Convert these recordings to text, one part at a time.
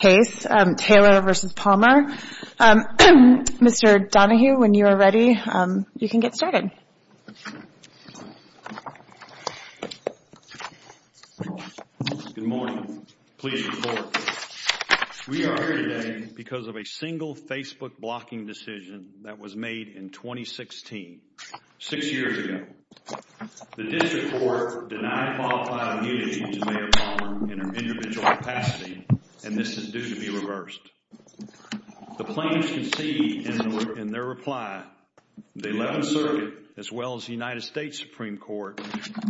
Good morning. Please report. We are here today because of a single Facebook blocking decision that was made in 2016, six years ago. The district court denied qualified immunity to be reversed. The plaintiffs conceded in their reply, the 11th Circuit, as well as the United States Supreme Court,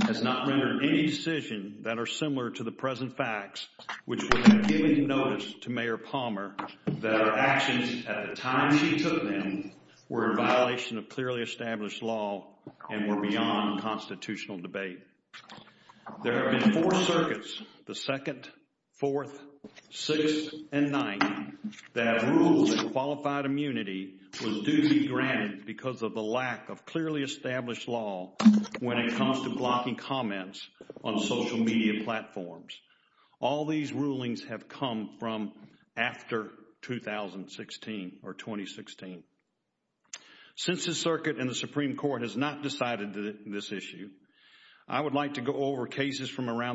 has not rendered any decision that are similar to the present facts, which would have given notice to Mayor Palmer that her actions at the time she took them were in violation of clearly established law and were beyond constitutional debate. There have been four circuits, the 2nd, 4th, 6th, and 9th, that have ruled that qualified immunity was duly granted because of the lack of clearly established law when it comes to blocking comments on social media platforms. All these rulings have come from after 2016. Since the around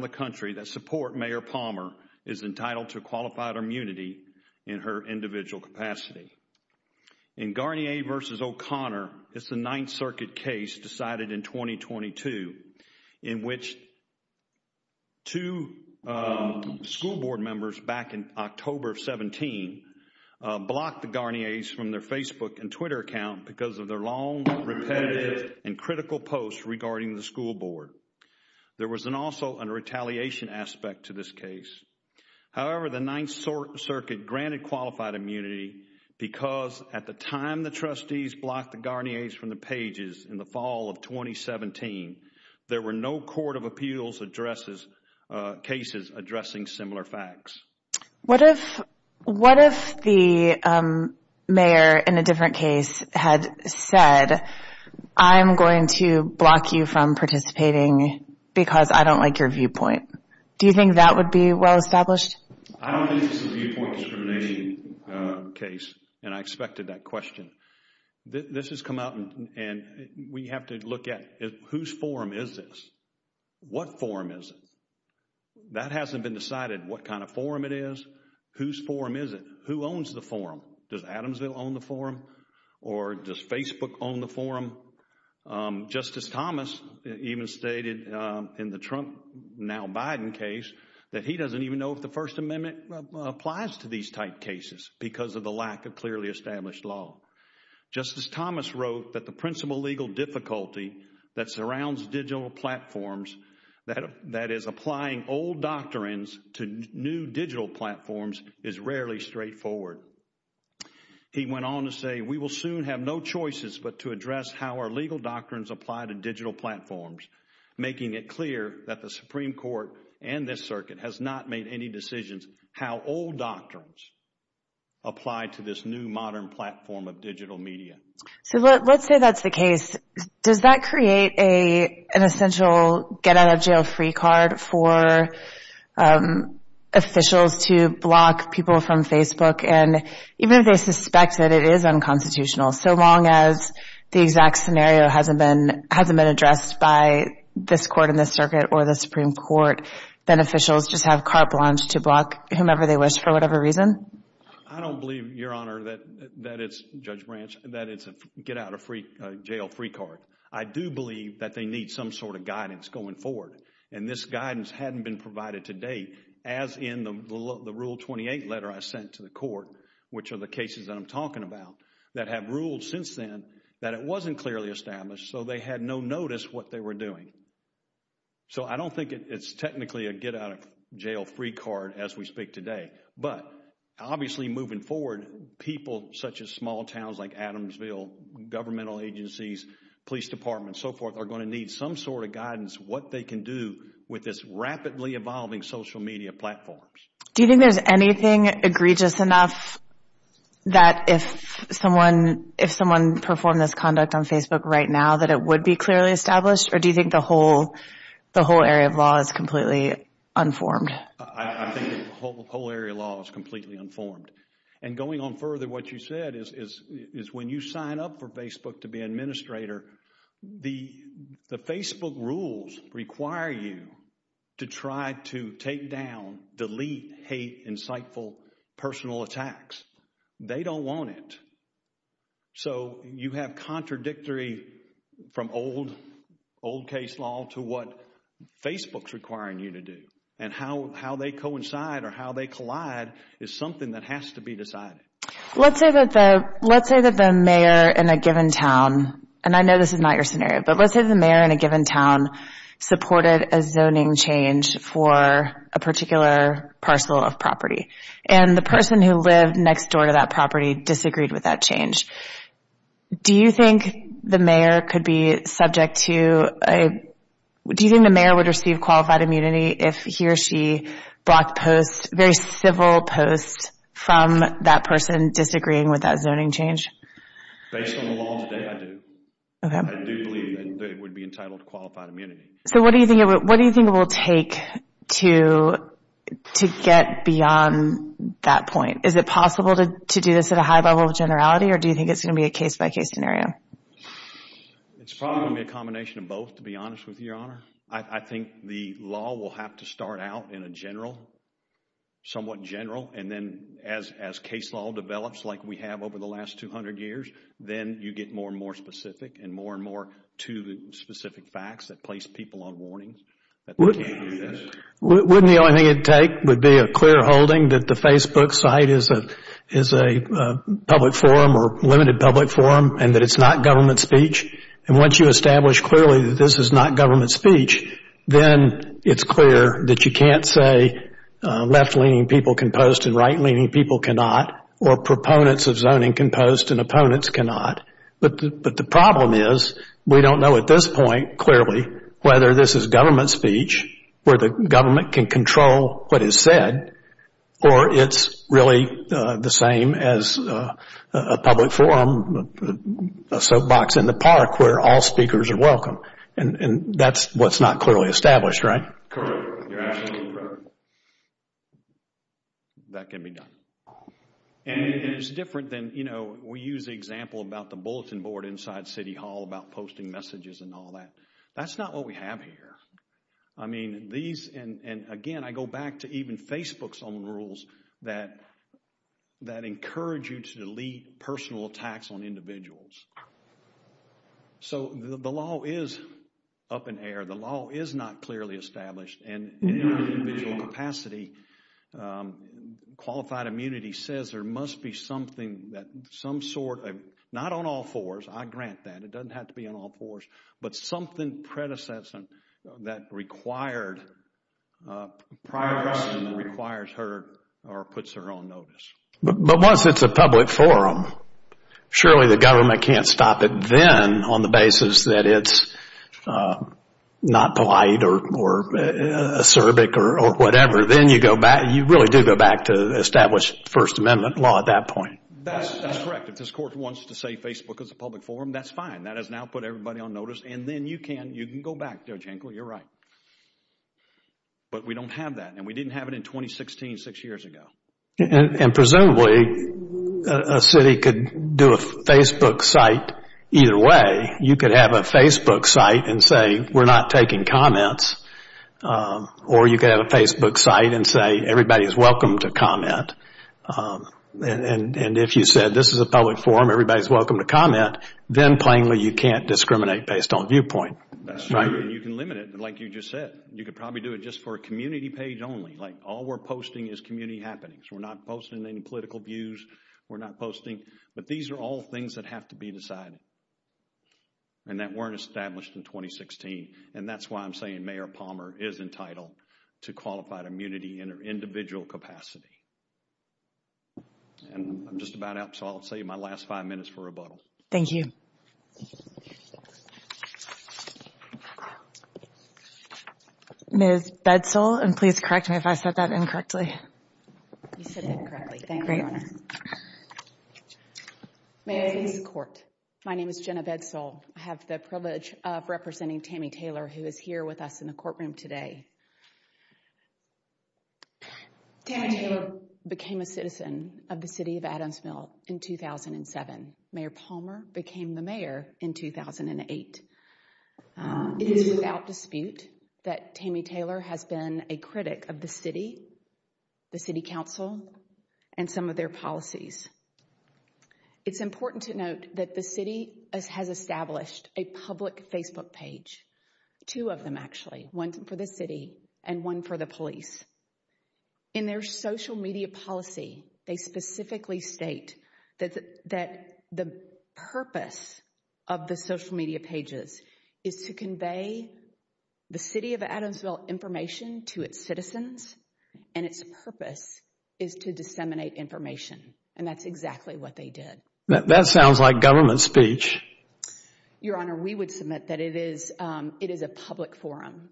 the country that support Mayor Palmer is entitled to qualified immunity in her individual capacity. In Garnier v. O'Connor, it's the 9th Circuit case decided in 2022, in which two school board members back in October of 17 blocked the Garniers from their Facebook and Twitter account because of their long, repetitive, and critical posts regarding the retaliation aspect to this case. However, the 9th Circuit granted qualified immunity because at the time the trustees blocked the Garniers from the pages in the fall of 2017, there were no court of appeals cases addressing similar facts. What if the mayor in a different case had said, I'm going to block you from participating because I don't like your viewpoint? Do you think that would be well established? I don't think this is a viewpoint discrimination case, and I expected that question. This has come out and we have to look at whose forum is this? What forum is it? That hasn't been decided what kind of forum it is. Whose forum is it? Who owns the forum? Does Adamsville own the forum? Or does Facebook own the forum? Justice Thomas even stated in the Trump, now Biden case, that he doesn't even know if the First Amendment applies to these type cases because of the lack of clearly established law. Justice Thomas wrote that the principal legal difficulty that surrounds digital platforms, that is applying old doctrines to new digital platforms is rarely straightforward. He went on to say, we will soon have no choices but to address how our legal doctrines apply to digital platforms, making it clear that the Supreme Court and this circuit has not made any decisions how old doctrines apply to this new modern platform of digital media. So let's say that's the case. Does that create an essential get out of jail free card for officials to block people from Facebook? And even if they suspect that it is unconstitutional, so long as the exact scenario hasn't been addressed by this court and this circuit or the Supreme Court, then officials just have carte blanche to block whomever they wish for whatever reason? I don't believe, Your Honor, that it's, Judge Branch, that it's a get out of jail free card. I do believe that they need some sort of guidance going forward. And this guidance hadn't been released to date, as in the Rule 28 letter I sent to the court, which are the cases that I'm talking about, that have ruled since then that it wasn't clearly established, so they had no notice what they were doing. So I don't think it's technically a get out of jail free card as we speak today. But obviously moving forward, people such as small towns like Adamsville, governmental agencies, police departments, so forth, are going to need some sort of guidance what they can do with this rapidly evolving social media platforms. Do you think there's anything egregious enough that if someone performed this conduct on Facebook right now that it would be clearly established? Or do you think the whole area of law is completely unformed? I think the whole area of law is completely unformed. And going on further, what you said is when you sign up for Facebook to be an administrator, the Facebook rules require you to try to take down, delete, hate, insightful personal attacks. They don't want it. So you have contradictory, from old case law to what Facebook's requiring you to do. And how they coincide or how they collide is something that has to be decided. Let's say that the mayor in a given town, and I know this is not your scenario, but let's say the mayor in a given town supported a zoning change for a particular parcel of property. And the person who lived next door to that property disagreed with that change. Do you think the mayor could be subject to, do you think the mayor would receive qualified immunity if he or she blocked posts, very civil posts, from that person disagreeing with that zoning change? Based on the law today, I do. I do believe that it would be entitled to qualified immunity. So what do you think it will take to get beyond that point? Is it possible to do this at a high level of generality or do you think it's going to be a case-by-case scenario? It's probably going to be a combination of both, to be honest with you, Your Honor. I think the law will have to start out in a general, somewhat general, and then as case law develops like we have over the last 200 years, then you get more and more specific and more and more to the specific facts that place people on warning that they can't do this. Wouldn't the only thing it would take would be a clear holding that the Facebook site is a public forum or limited public forum and that it's not government speech? And once you establish clearly that this is not government speech, then it's clear that you can't say left-leaning people can post and right-leaning people cannot or proponents of zoning can post and opponents cannot. But the problem is we don't know at this point clearly whether this is government speech where the government can control what is said or it's really the same as a public forum, a soapbox in the park where all speakers are welcome. And that's what's not clearly established, right? Correct. You're absolutely correct. That can be done. And it's different than, you know, we use the example about the bulletin board inside City Hall about posting messages and all that. That's not what we have here. I mean, these, and again, I go back to even Facebook's own rules that encourage you to delete personal attacks on individuals. So the law is up in air. The law is not clearly established and in our individual capacity, qualified immunity says there must be something that some sort of, not on all fours, I grant that, it doesn't have to be on all fours, but something predecessant that required, requires her or puts her on notice. But once it's a public forum, surely the government can't stop it then on the basis that it's not polite or acerbic or whatever. Then you go back, you really do go back to established First Amendment law at that point. That's correct. If this court wants to say Facebook is a public forum, that's fine. That has now put everybody on notice and then you can, you can go back, Judge Henkel, you're right. But we don't have that and we didn't have it in 2016, six years ago. And presumably, a city could do a Facebook site either way. You could have a Facebook site and say we're not taking comments or you could have a Facebook site and say everybody's welcome to comment. And if you said this is a public forum, everybody's welcome to comment, then plainly you can't discriminate based on viewpoint. That's right. And you can limit it like you just said. You could probably do it just for a community page only. Like all we're posting is community happenings. We're not posting any political views. We're not posting, but these are all things that have to be decided and that weren't established in 2016. And that's why I'm saying Mayor Palmer is entitled to qualified immunity in her individual capacity. And I'm just about out, so I'll save my last five minutes for rebuttal. Thank you. Ms. Bedsall, and please correct me if I said that incorrectly. You said that correctly. Thank you, Your Honor. Mayors of the Court, my name is Jenna Bedsall. I have the privilege of representing Tammy Taylor, who is here with us in the courtroom today. Tammy Taylor became a citizen of the city of Adamsville in 2007. Mayor Palmer became the mayor in 2008. It is without dispute that Tammy Taylor has been a critic of the city, the city council, and some of their policies. It's important to note that the city has established a public Facebook page, two of them actually, one for the city and one for the police. In their social media policy, they specifically state that the purpose of the social media pages is to convey the city of Adamsville information to its citizens and its purpose is to disseminate information. And that's exactly what they did. That sounds like government speech. Your Honor, we would submit that it is a public forum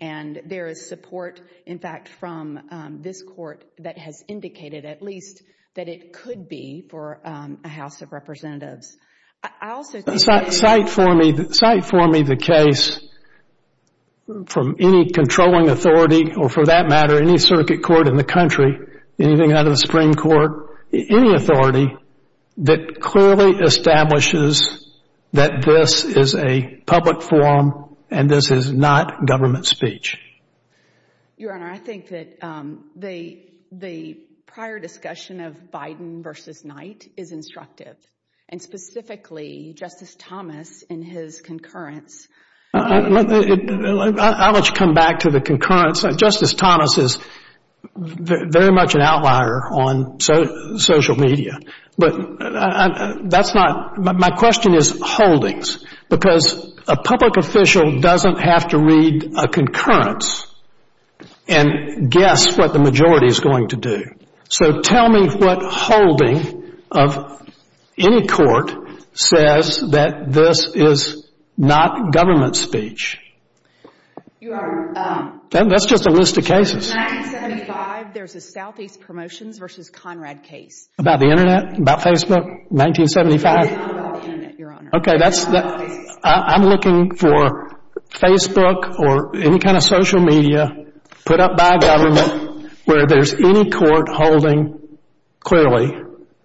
and there is support, in fact, from this Court that has indicated, at least, that it could be for a House of Representatives. I also think that— Cite for me, cite for me the case from any controlling authority, or for that matter any circuit court in the country, anything out of the Supreme Court, any authority that clearly establishes that this is a public forum and this is not government speech. Your Honor, I think that the prior discussion of Biden versus Knight is instructive. And specifically, Justice Thomas in his concurrence— I'll let you come back to the concurrence. Justice Thomas is very much an outlier on social media. But that's not—my question is holdings, because a public official doesn't have to read a concurrence and guess what the majority is going to do. So tell me what holding of any court says that this is not government speech. Your Honor— That's just a list of cases. In 1975, there's a Southeast Promotions versus Conrad case. About the Internet? About Facebook? 1975? About the Internet, Your Honor. Okay, that's—I'm looking for Facebook or any kind of social media put up by government where there's any court holding clearly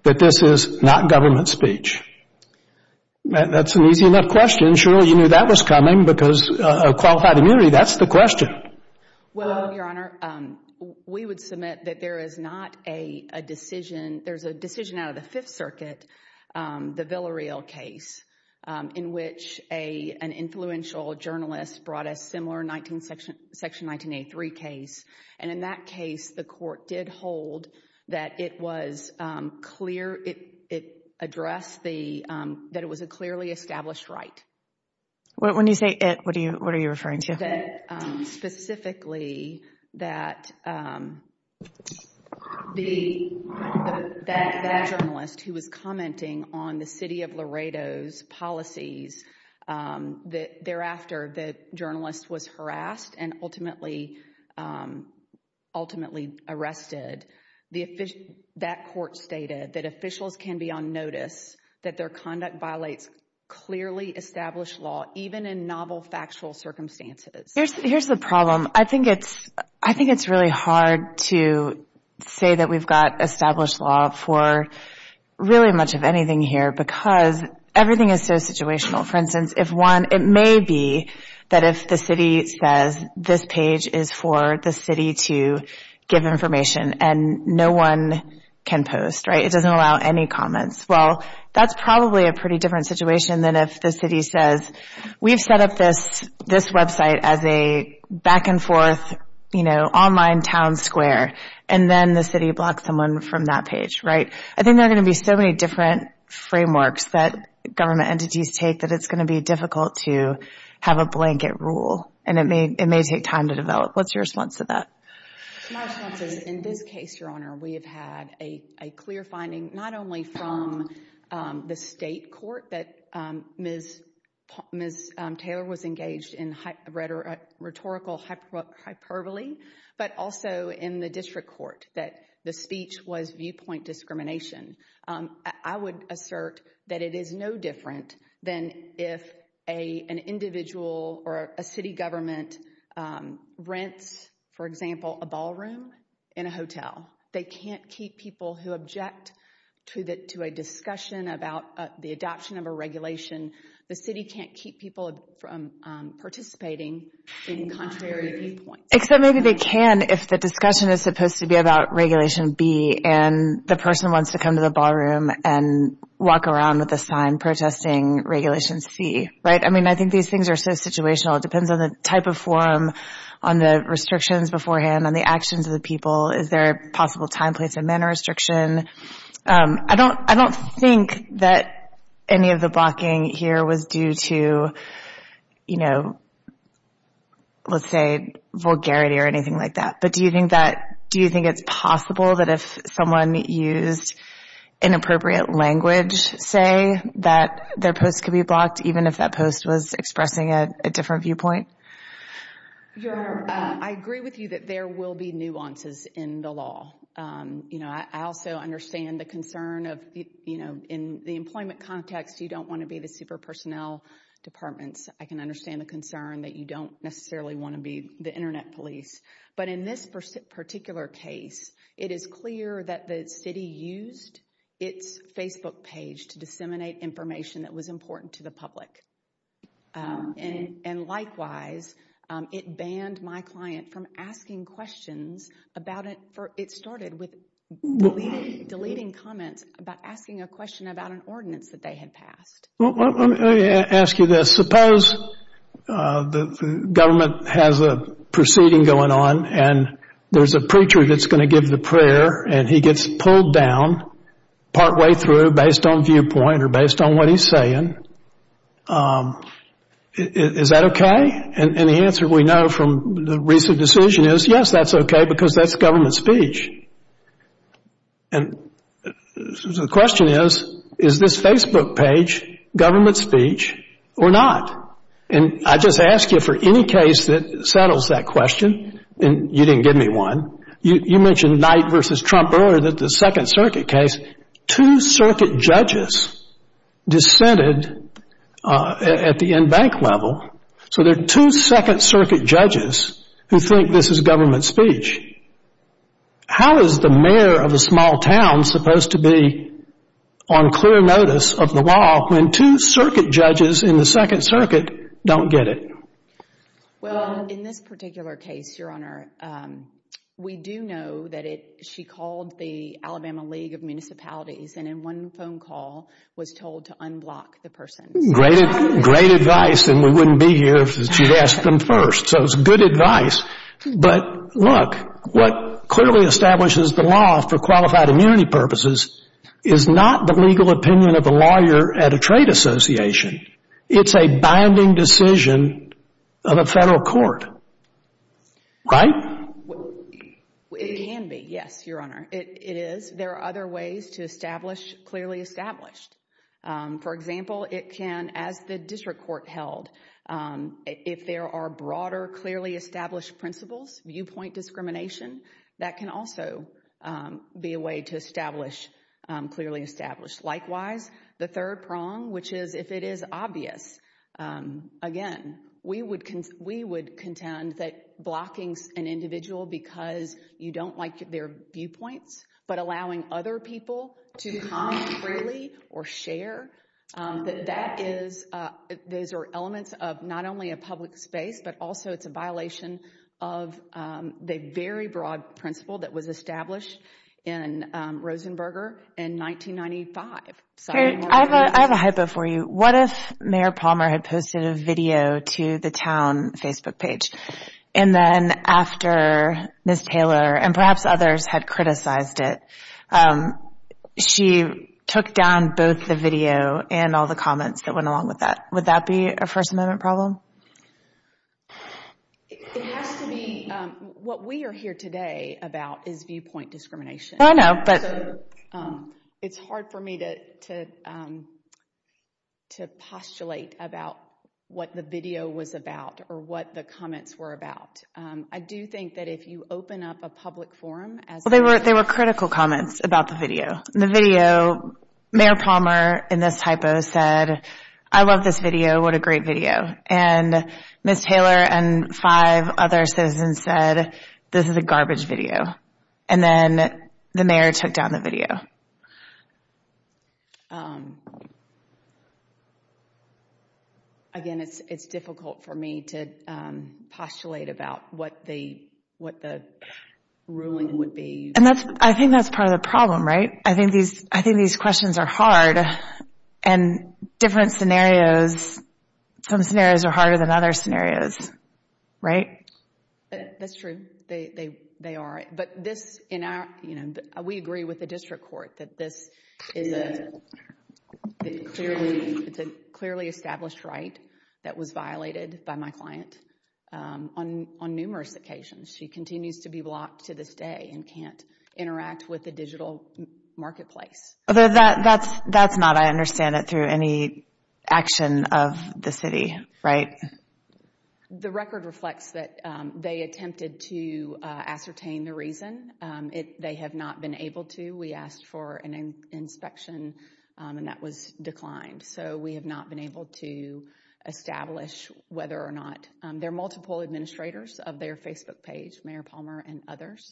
that this is not government speech. That's an easy enough question. Surely you knew that was coming because of qualified immunity. That's the question. Well, Your Honor, we would submit that there is not a decision—there's a decision out of the Fifth Circuit, the Villareal case, in which an influential journalist brought a similar section 1983 case. And in that case, the court did hold that it was clear—it addressed the—that it was a clearly established right. When you say it, what are you referring to? That specifically that the—that journalist who was commenting on the city of Laredo's policies, that thereafter the journalist was harassed and ultimately arrested, that court stated that officials can be on notice, that their conduct violates clearly established law, even in novel factual circumstances. Here's the problem. I think it's—I think it's really hard to say that we've got established law for really much of anything here because everything is so situational. For instance, if one—it may be that if the city says this page is for the city to give information and no one can post, right, it doesn't allow any comments. Well, that's probably a pretty different situation than if the city says, we've set up this—this website as a back-and-forth, you know, online town square, and then the city blocks someone from that page, right? I think there are going to be so many different frameworks that government entities take that it's going to be difficult to have a blanket rule, and it may—it may take time to develop. What's your response to that? My response is, in this case, Your Honor, we have had a clear finding not only from the state court that Ms. Taylor was engaged in rhetorical hyperbole, but also in the district court that the speech was viewpoint discrimination. I would assert that it is no different than if an individual or a city government rents, for example, a ballroom in a hotel. They can't keep people who object to a discussion about the adoption of a regulation. The city can't keep people from participating in contrary viewpoints. Except maybe they can if the discussion is supposed to be about Regulation B and the person wants to come to the ballroom and walk around with a sign protesting Regulation C, right? I mean, I think these things are so situational. It depends on the type of forum, on the restrictions beforehand, on the actions of the people. Is there a possible time, place, and manner restriction? I don't think that any of the blocking here was due to, let's say, vulgarity or anything like that. But do you think it's possible that if someone used inappropriate language, say, that their post could be blocked even if that post was expressing a different viewpoint? Your Honor, I agree with you that there will be nuances in the law. You know, I also understand the concern of, you know, in the employment context, you don't want to be the super personnel departments. I can understand the concern that you don't necessarily want to be the Internet police. But in this particular case, it is clear that the city used its Facebook page to disseminate information that was important to the public. And likewise, it banned my client from asking questions about it. It started with deleting comments about asking a question about an ordinance that they had passed. Let me ask you this. Suppose the government has a proceeding going on, and there's a preacher that's going to give the prayer, and he gets pulled down partway through based on viewpoint or based on what he's saying. Is that okay? And the answer we know from the recent decision is, yes, that's okay, because that's government speech. And the question is, is this Facebook page government speech or not? And I just ask you, for any case that settles that question, and you didn't give me one, you mentioned Knight v. Trump earlier that the Second Circuit case, two circuit judges dissented at the in-bank level. So there are two Second Circuit judges who think this is government speech. How is the mayor of a small town supposed to be on clear notice of the law when two circuit judges in the Second Circuit don't get it? Well, in this particular case, Your Honor, we do know that she called the Alabama League of Municipalities, and in one phone call was told to unblock the person. Great advice, and we wouldn't be here if she'd asked them first. So it's good advice. But look, what clearly establishes the law for qualified immunity purposes is not the legal opinion of a lawyer at a trade association. It's a binding decision of a federal court. Right? It can be, yes, Your Honor. It is. There are other ways to establish clearly established. For example, it can, as the district court held, if there are broader clearly established principles, viewpoint discrimination, that can also be a way to establish clearly established. Likewise, the third prong, which is if it is obvious. Again, we would contend that blocking an individual because you don't like their viewpoints, but allowing other people to comment freely or share, that those are elements of not only a public space, but also it's a violation of the very broad principle that was established in Rosenberger in 1995. I have a hypo for you. What if Mayor Palmer had posted a video to the town Facebook page, and then after Ms. Taylor and perhaps others had criticized it, she took down both the video and all the comments that went along with that? Would that be a First Amendment problem? It has to be. What we are here today about is viewpoint discrimination. I know, but. It's hard for me to postulate about what the video was about or what the comments were about. I do think that if you open up a public forum as... They were critical comments about the video. The video, Mayor Palmer in this hypo said, I love this video. What a great video. And Ms. Taylor and five other citizens said, this is a garbage video. And then the mayor took down the video. Again, it's difficult for me to postulate about what the ruling would be. I think that's part of the problem, right? I think these questions are hard, and different scenarios, some scenarios are harder than other scenarios. Right? That's true. They are. But we agree with the district court that this is a clearly established right that was violated by my client on numerous occasions. She continues to be blocked to this day and can't interact with the digital marketplace. That's not, I understand it, through any action of the city, right? The record reflects that they attempted to ascertain the reason. They have not been able to. We asked for an inspection, and that was declined. So we have not been able to establish whether or not... There are multiple administrators of their Facebook page, both Mayor Palmer and others.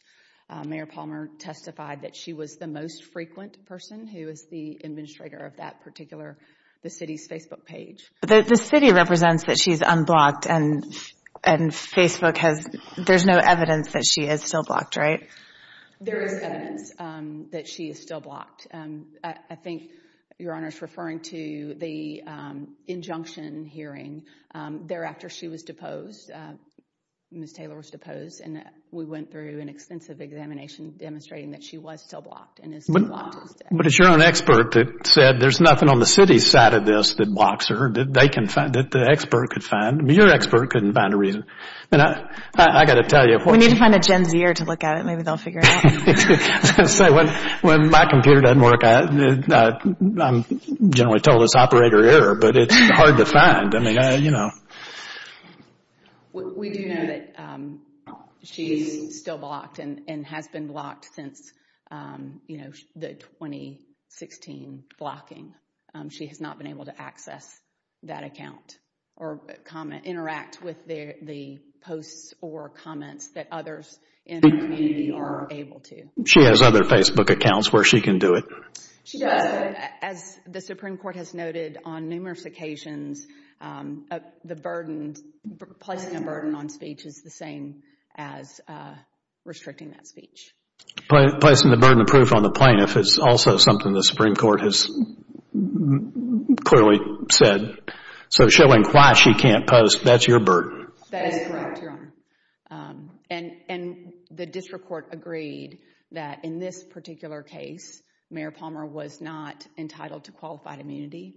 Mayor Palmer testified that she was the most frequent person who was the administrator of that particular city's Facebook page. The city represents that she's unblocked, and Facebook has, there's no evidence that she is still blocked, right? There is evidence that she is still blocked. I think Your Honor is referring to the injunction hearing. Thereafter, she was deposed. Ms. Taylor was deposed, and we went through an extensive examination demonstrating that she was still blocked and is still blocked to this day. But it's your own expert that said there's nothing on the city's side of this that blocks her, that the expert could find. Your expert couldn't find a reason. I've got to tell you... We need to find a Gen Zer to look at it. Maybe they'll figure it out. When my computer doesn't work, I'm generally told it's operator error, but it's hard to find. We do know that she's still blocked and has been blocked since the 2016 blocking. She has not been able to access that account or interact with the posts or comments that others in the community are able to. She has other Facebook accounts where she can do it. She does. As the Supreme Court has noted on numerous occasions, the burden, placing a burden on speech is the same as restricting that speech. Placing the burden of proof on the plaintiff is also something the Supreme Court has clearly said. So showing why she can't post, that's your burden. That is correct, Your Honor. And the district court agreed that in this particular case, Mayor Palmer was not entitled to qualified immunity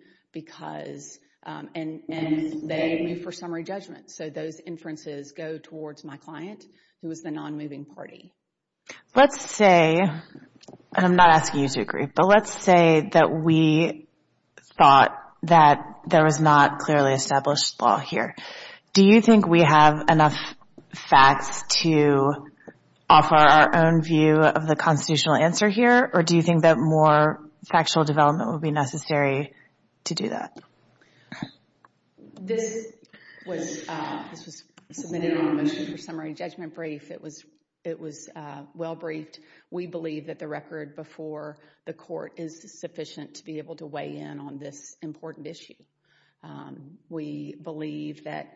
and they moved for summary judgment. So those inferences go towards my client, who is the non-moving party. Let's say, and I'm not asking you to agree, but let's say that we thought that there was not clearly established law here. Do you think we have enough facts to offer our own view of the constitutional answer here or do you think that more factual development would be necessary to do that? This was submitted in the motion for summary judgment brief. It was well briefed. We believe that the record before the court is sufficient to be able to weigh in on this important issue. We believe that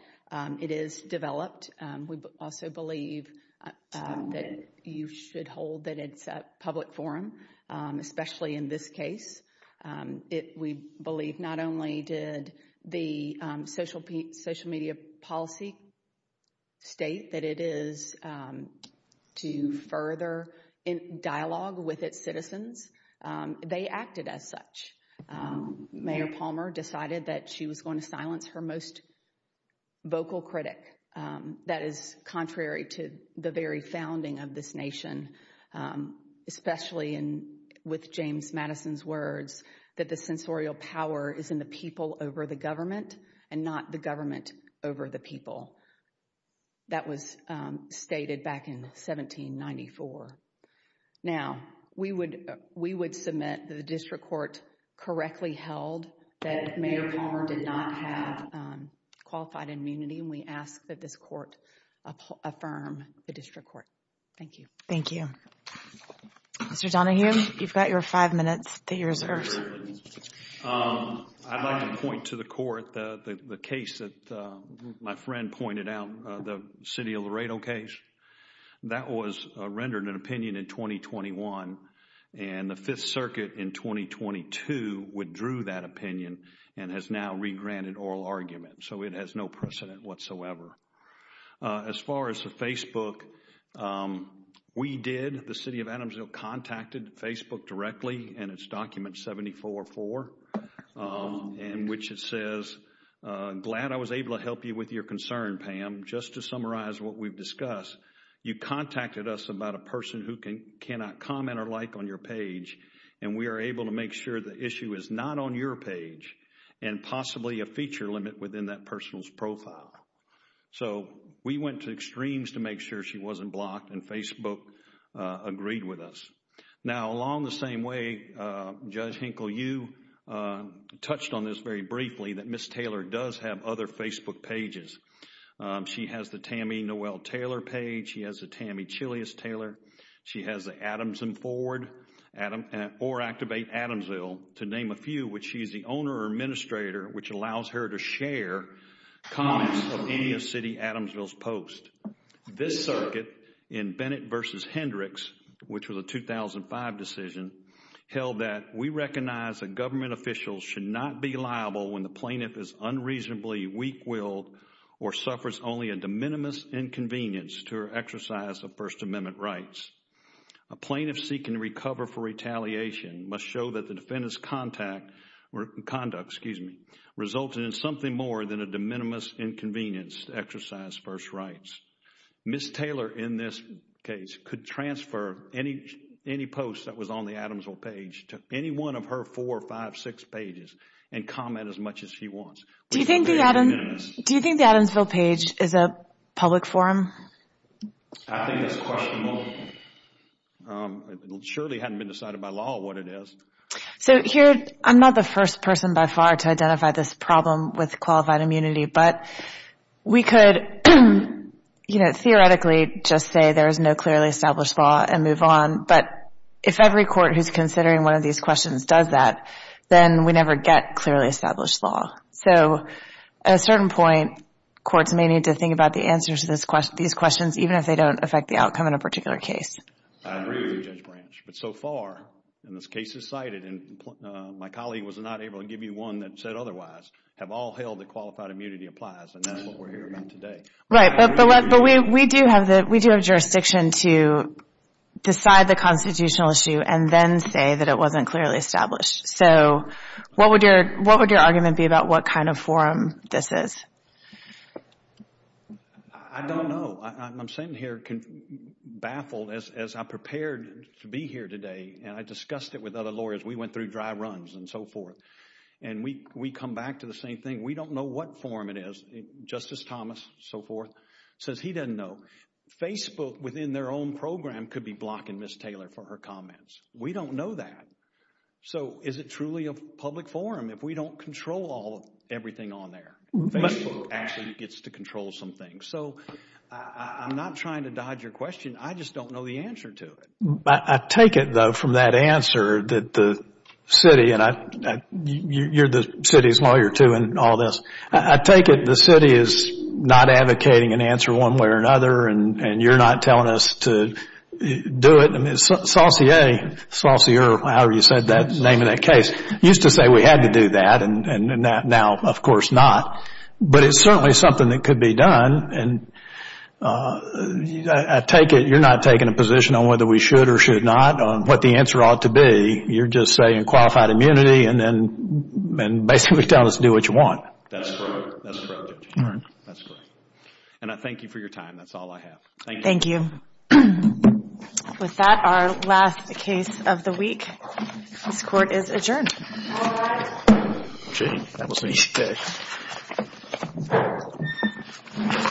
it is developed. We also believe that you should hold that it's a public forum, especially in this case. We believe not only did the social media policy state that it is to further dialogue with its citizens, they acted as such. Mayor Palmer decided that she was going to silence her most vocal critic. That is contrary to the very founding of this nation, especially with James Madison's words that the censorial power is in the people over the government and not the government over the people. That was stated back in 1794. Now, we would submit that the district court correctly held that Mayor Palmer did not have qualified immunity and we ask that this court affirm the district court. Thank you. Thank you. Mr. Donahue, you've got your five minutes that you reserved. I'd like to point to the court the case that my friend pointed out, the City of Laredo case. That was rendered an opinion in 2021, and the Fifth Circuit in 2022 withdrew that opinion and has now regranted oral argument, so it has no precedent whatsoever. As far as the Facebook, we did, the City of Adamsville contacted Facebook directly, and it's document 744, in which it says, glad I was able to help you with your concern, Pam. Just to summarize what we've discussed, you contacted us about a person who cannot comment or like on your page, and we are able to make sure the issue is not on your page and possibly a feature limit within that person's profile. So we went to extremes to make sure she wasn't blocked, and Facebook agreed with us. Now, along the same way, Judge Hinkle, you touched on this very briefly, that Ms. Taylor does have other Facebook pages. She has the Tammy Noel Taylor page. She has the Tammy Chileus Taylor. She has the Adams and Ford or Activate Adamsville, to name a few, which she is the owner or administrator, which allows her to share comments of any of City of Adamsville's posts. This circuit in Bennett v. Hendricks, which was a 2005 decision, held that we recognize that government officials should not be liable when the plaintiff is unreasonably weak-willed or suffers only a de minimis inconvenience to her exercise of First Amendment rights. A plaintiff seeking to recover for retaliation must show that the defendant's conduct resulted in something more than a de minimis inconvenience to exercise First Rights. Ms. Taylor, in this case, could transfer any post that was on the Adamsville page to any one of her four, five, six pages and comment as much as she wants. Do you think the Adamsville page is a public forum? I think it's questionable. It surely hadn't been decided by law what it is. So here, I'm not the first person by far to identify this problem with qualified immunity, but we could theoretically just say there is no clearly established law and move on, but if every court who's considering one of these questions does that, then we never get clearly established law. So at a certain point, courts may need to think about the answers to these questions even if they don't affect the outcome in a particular case. I agree with you, Judge Branch, but so far, and this case is cited, and my colleague was not able to give you one that said otherwise, have all held that qualified immunity applies, and that's what we're here about today. Right, but we do have jurisdiction to decide the constitutional issue and then say that it wasn't clearly established. So what would your argument be about what kind of forum this is? I don't know. I'm sitting here baffled as I prepared to be here today, and I discussed it with other lawyers. We went through dry runs and so forth, and we come back to the same thing. We don't know what forum it is. Justice Thomas, so forth, says he doesn't know. Facebook, within their own program, could be blocking Ms. Taylor for her comments. We don't know that. So is it truly a public forum if we don't control everything on there? Facebook actually gets to control some things. So I'm not trying to dodge your question. I just don't know the answer to it. I take it, though, from that answer that the city, and you're the city's lawyer too in all this, I take it the city is not advocating an answer one way or another, and you're not telling us to do it. Saucier, however you said the name of that case, used to say we had to do that, and now, of course, not. But it's certainly something that could be done, and I take it you're not taking a position on whether we should or should not, on what the answer ought to be. You're just saying qualified immunity and basically tell us to do what you want. That's correct. And I thank you for your time. That's all I have. Thank you. With that, our last case of the week. This court is adjourned. All rise.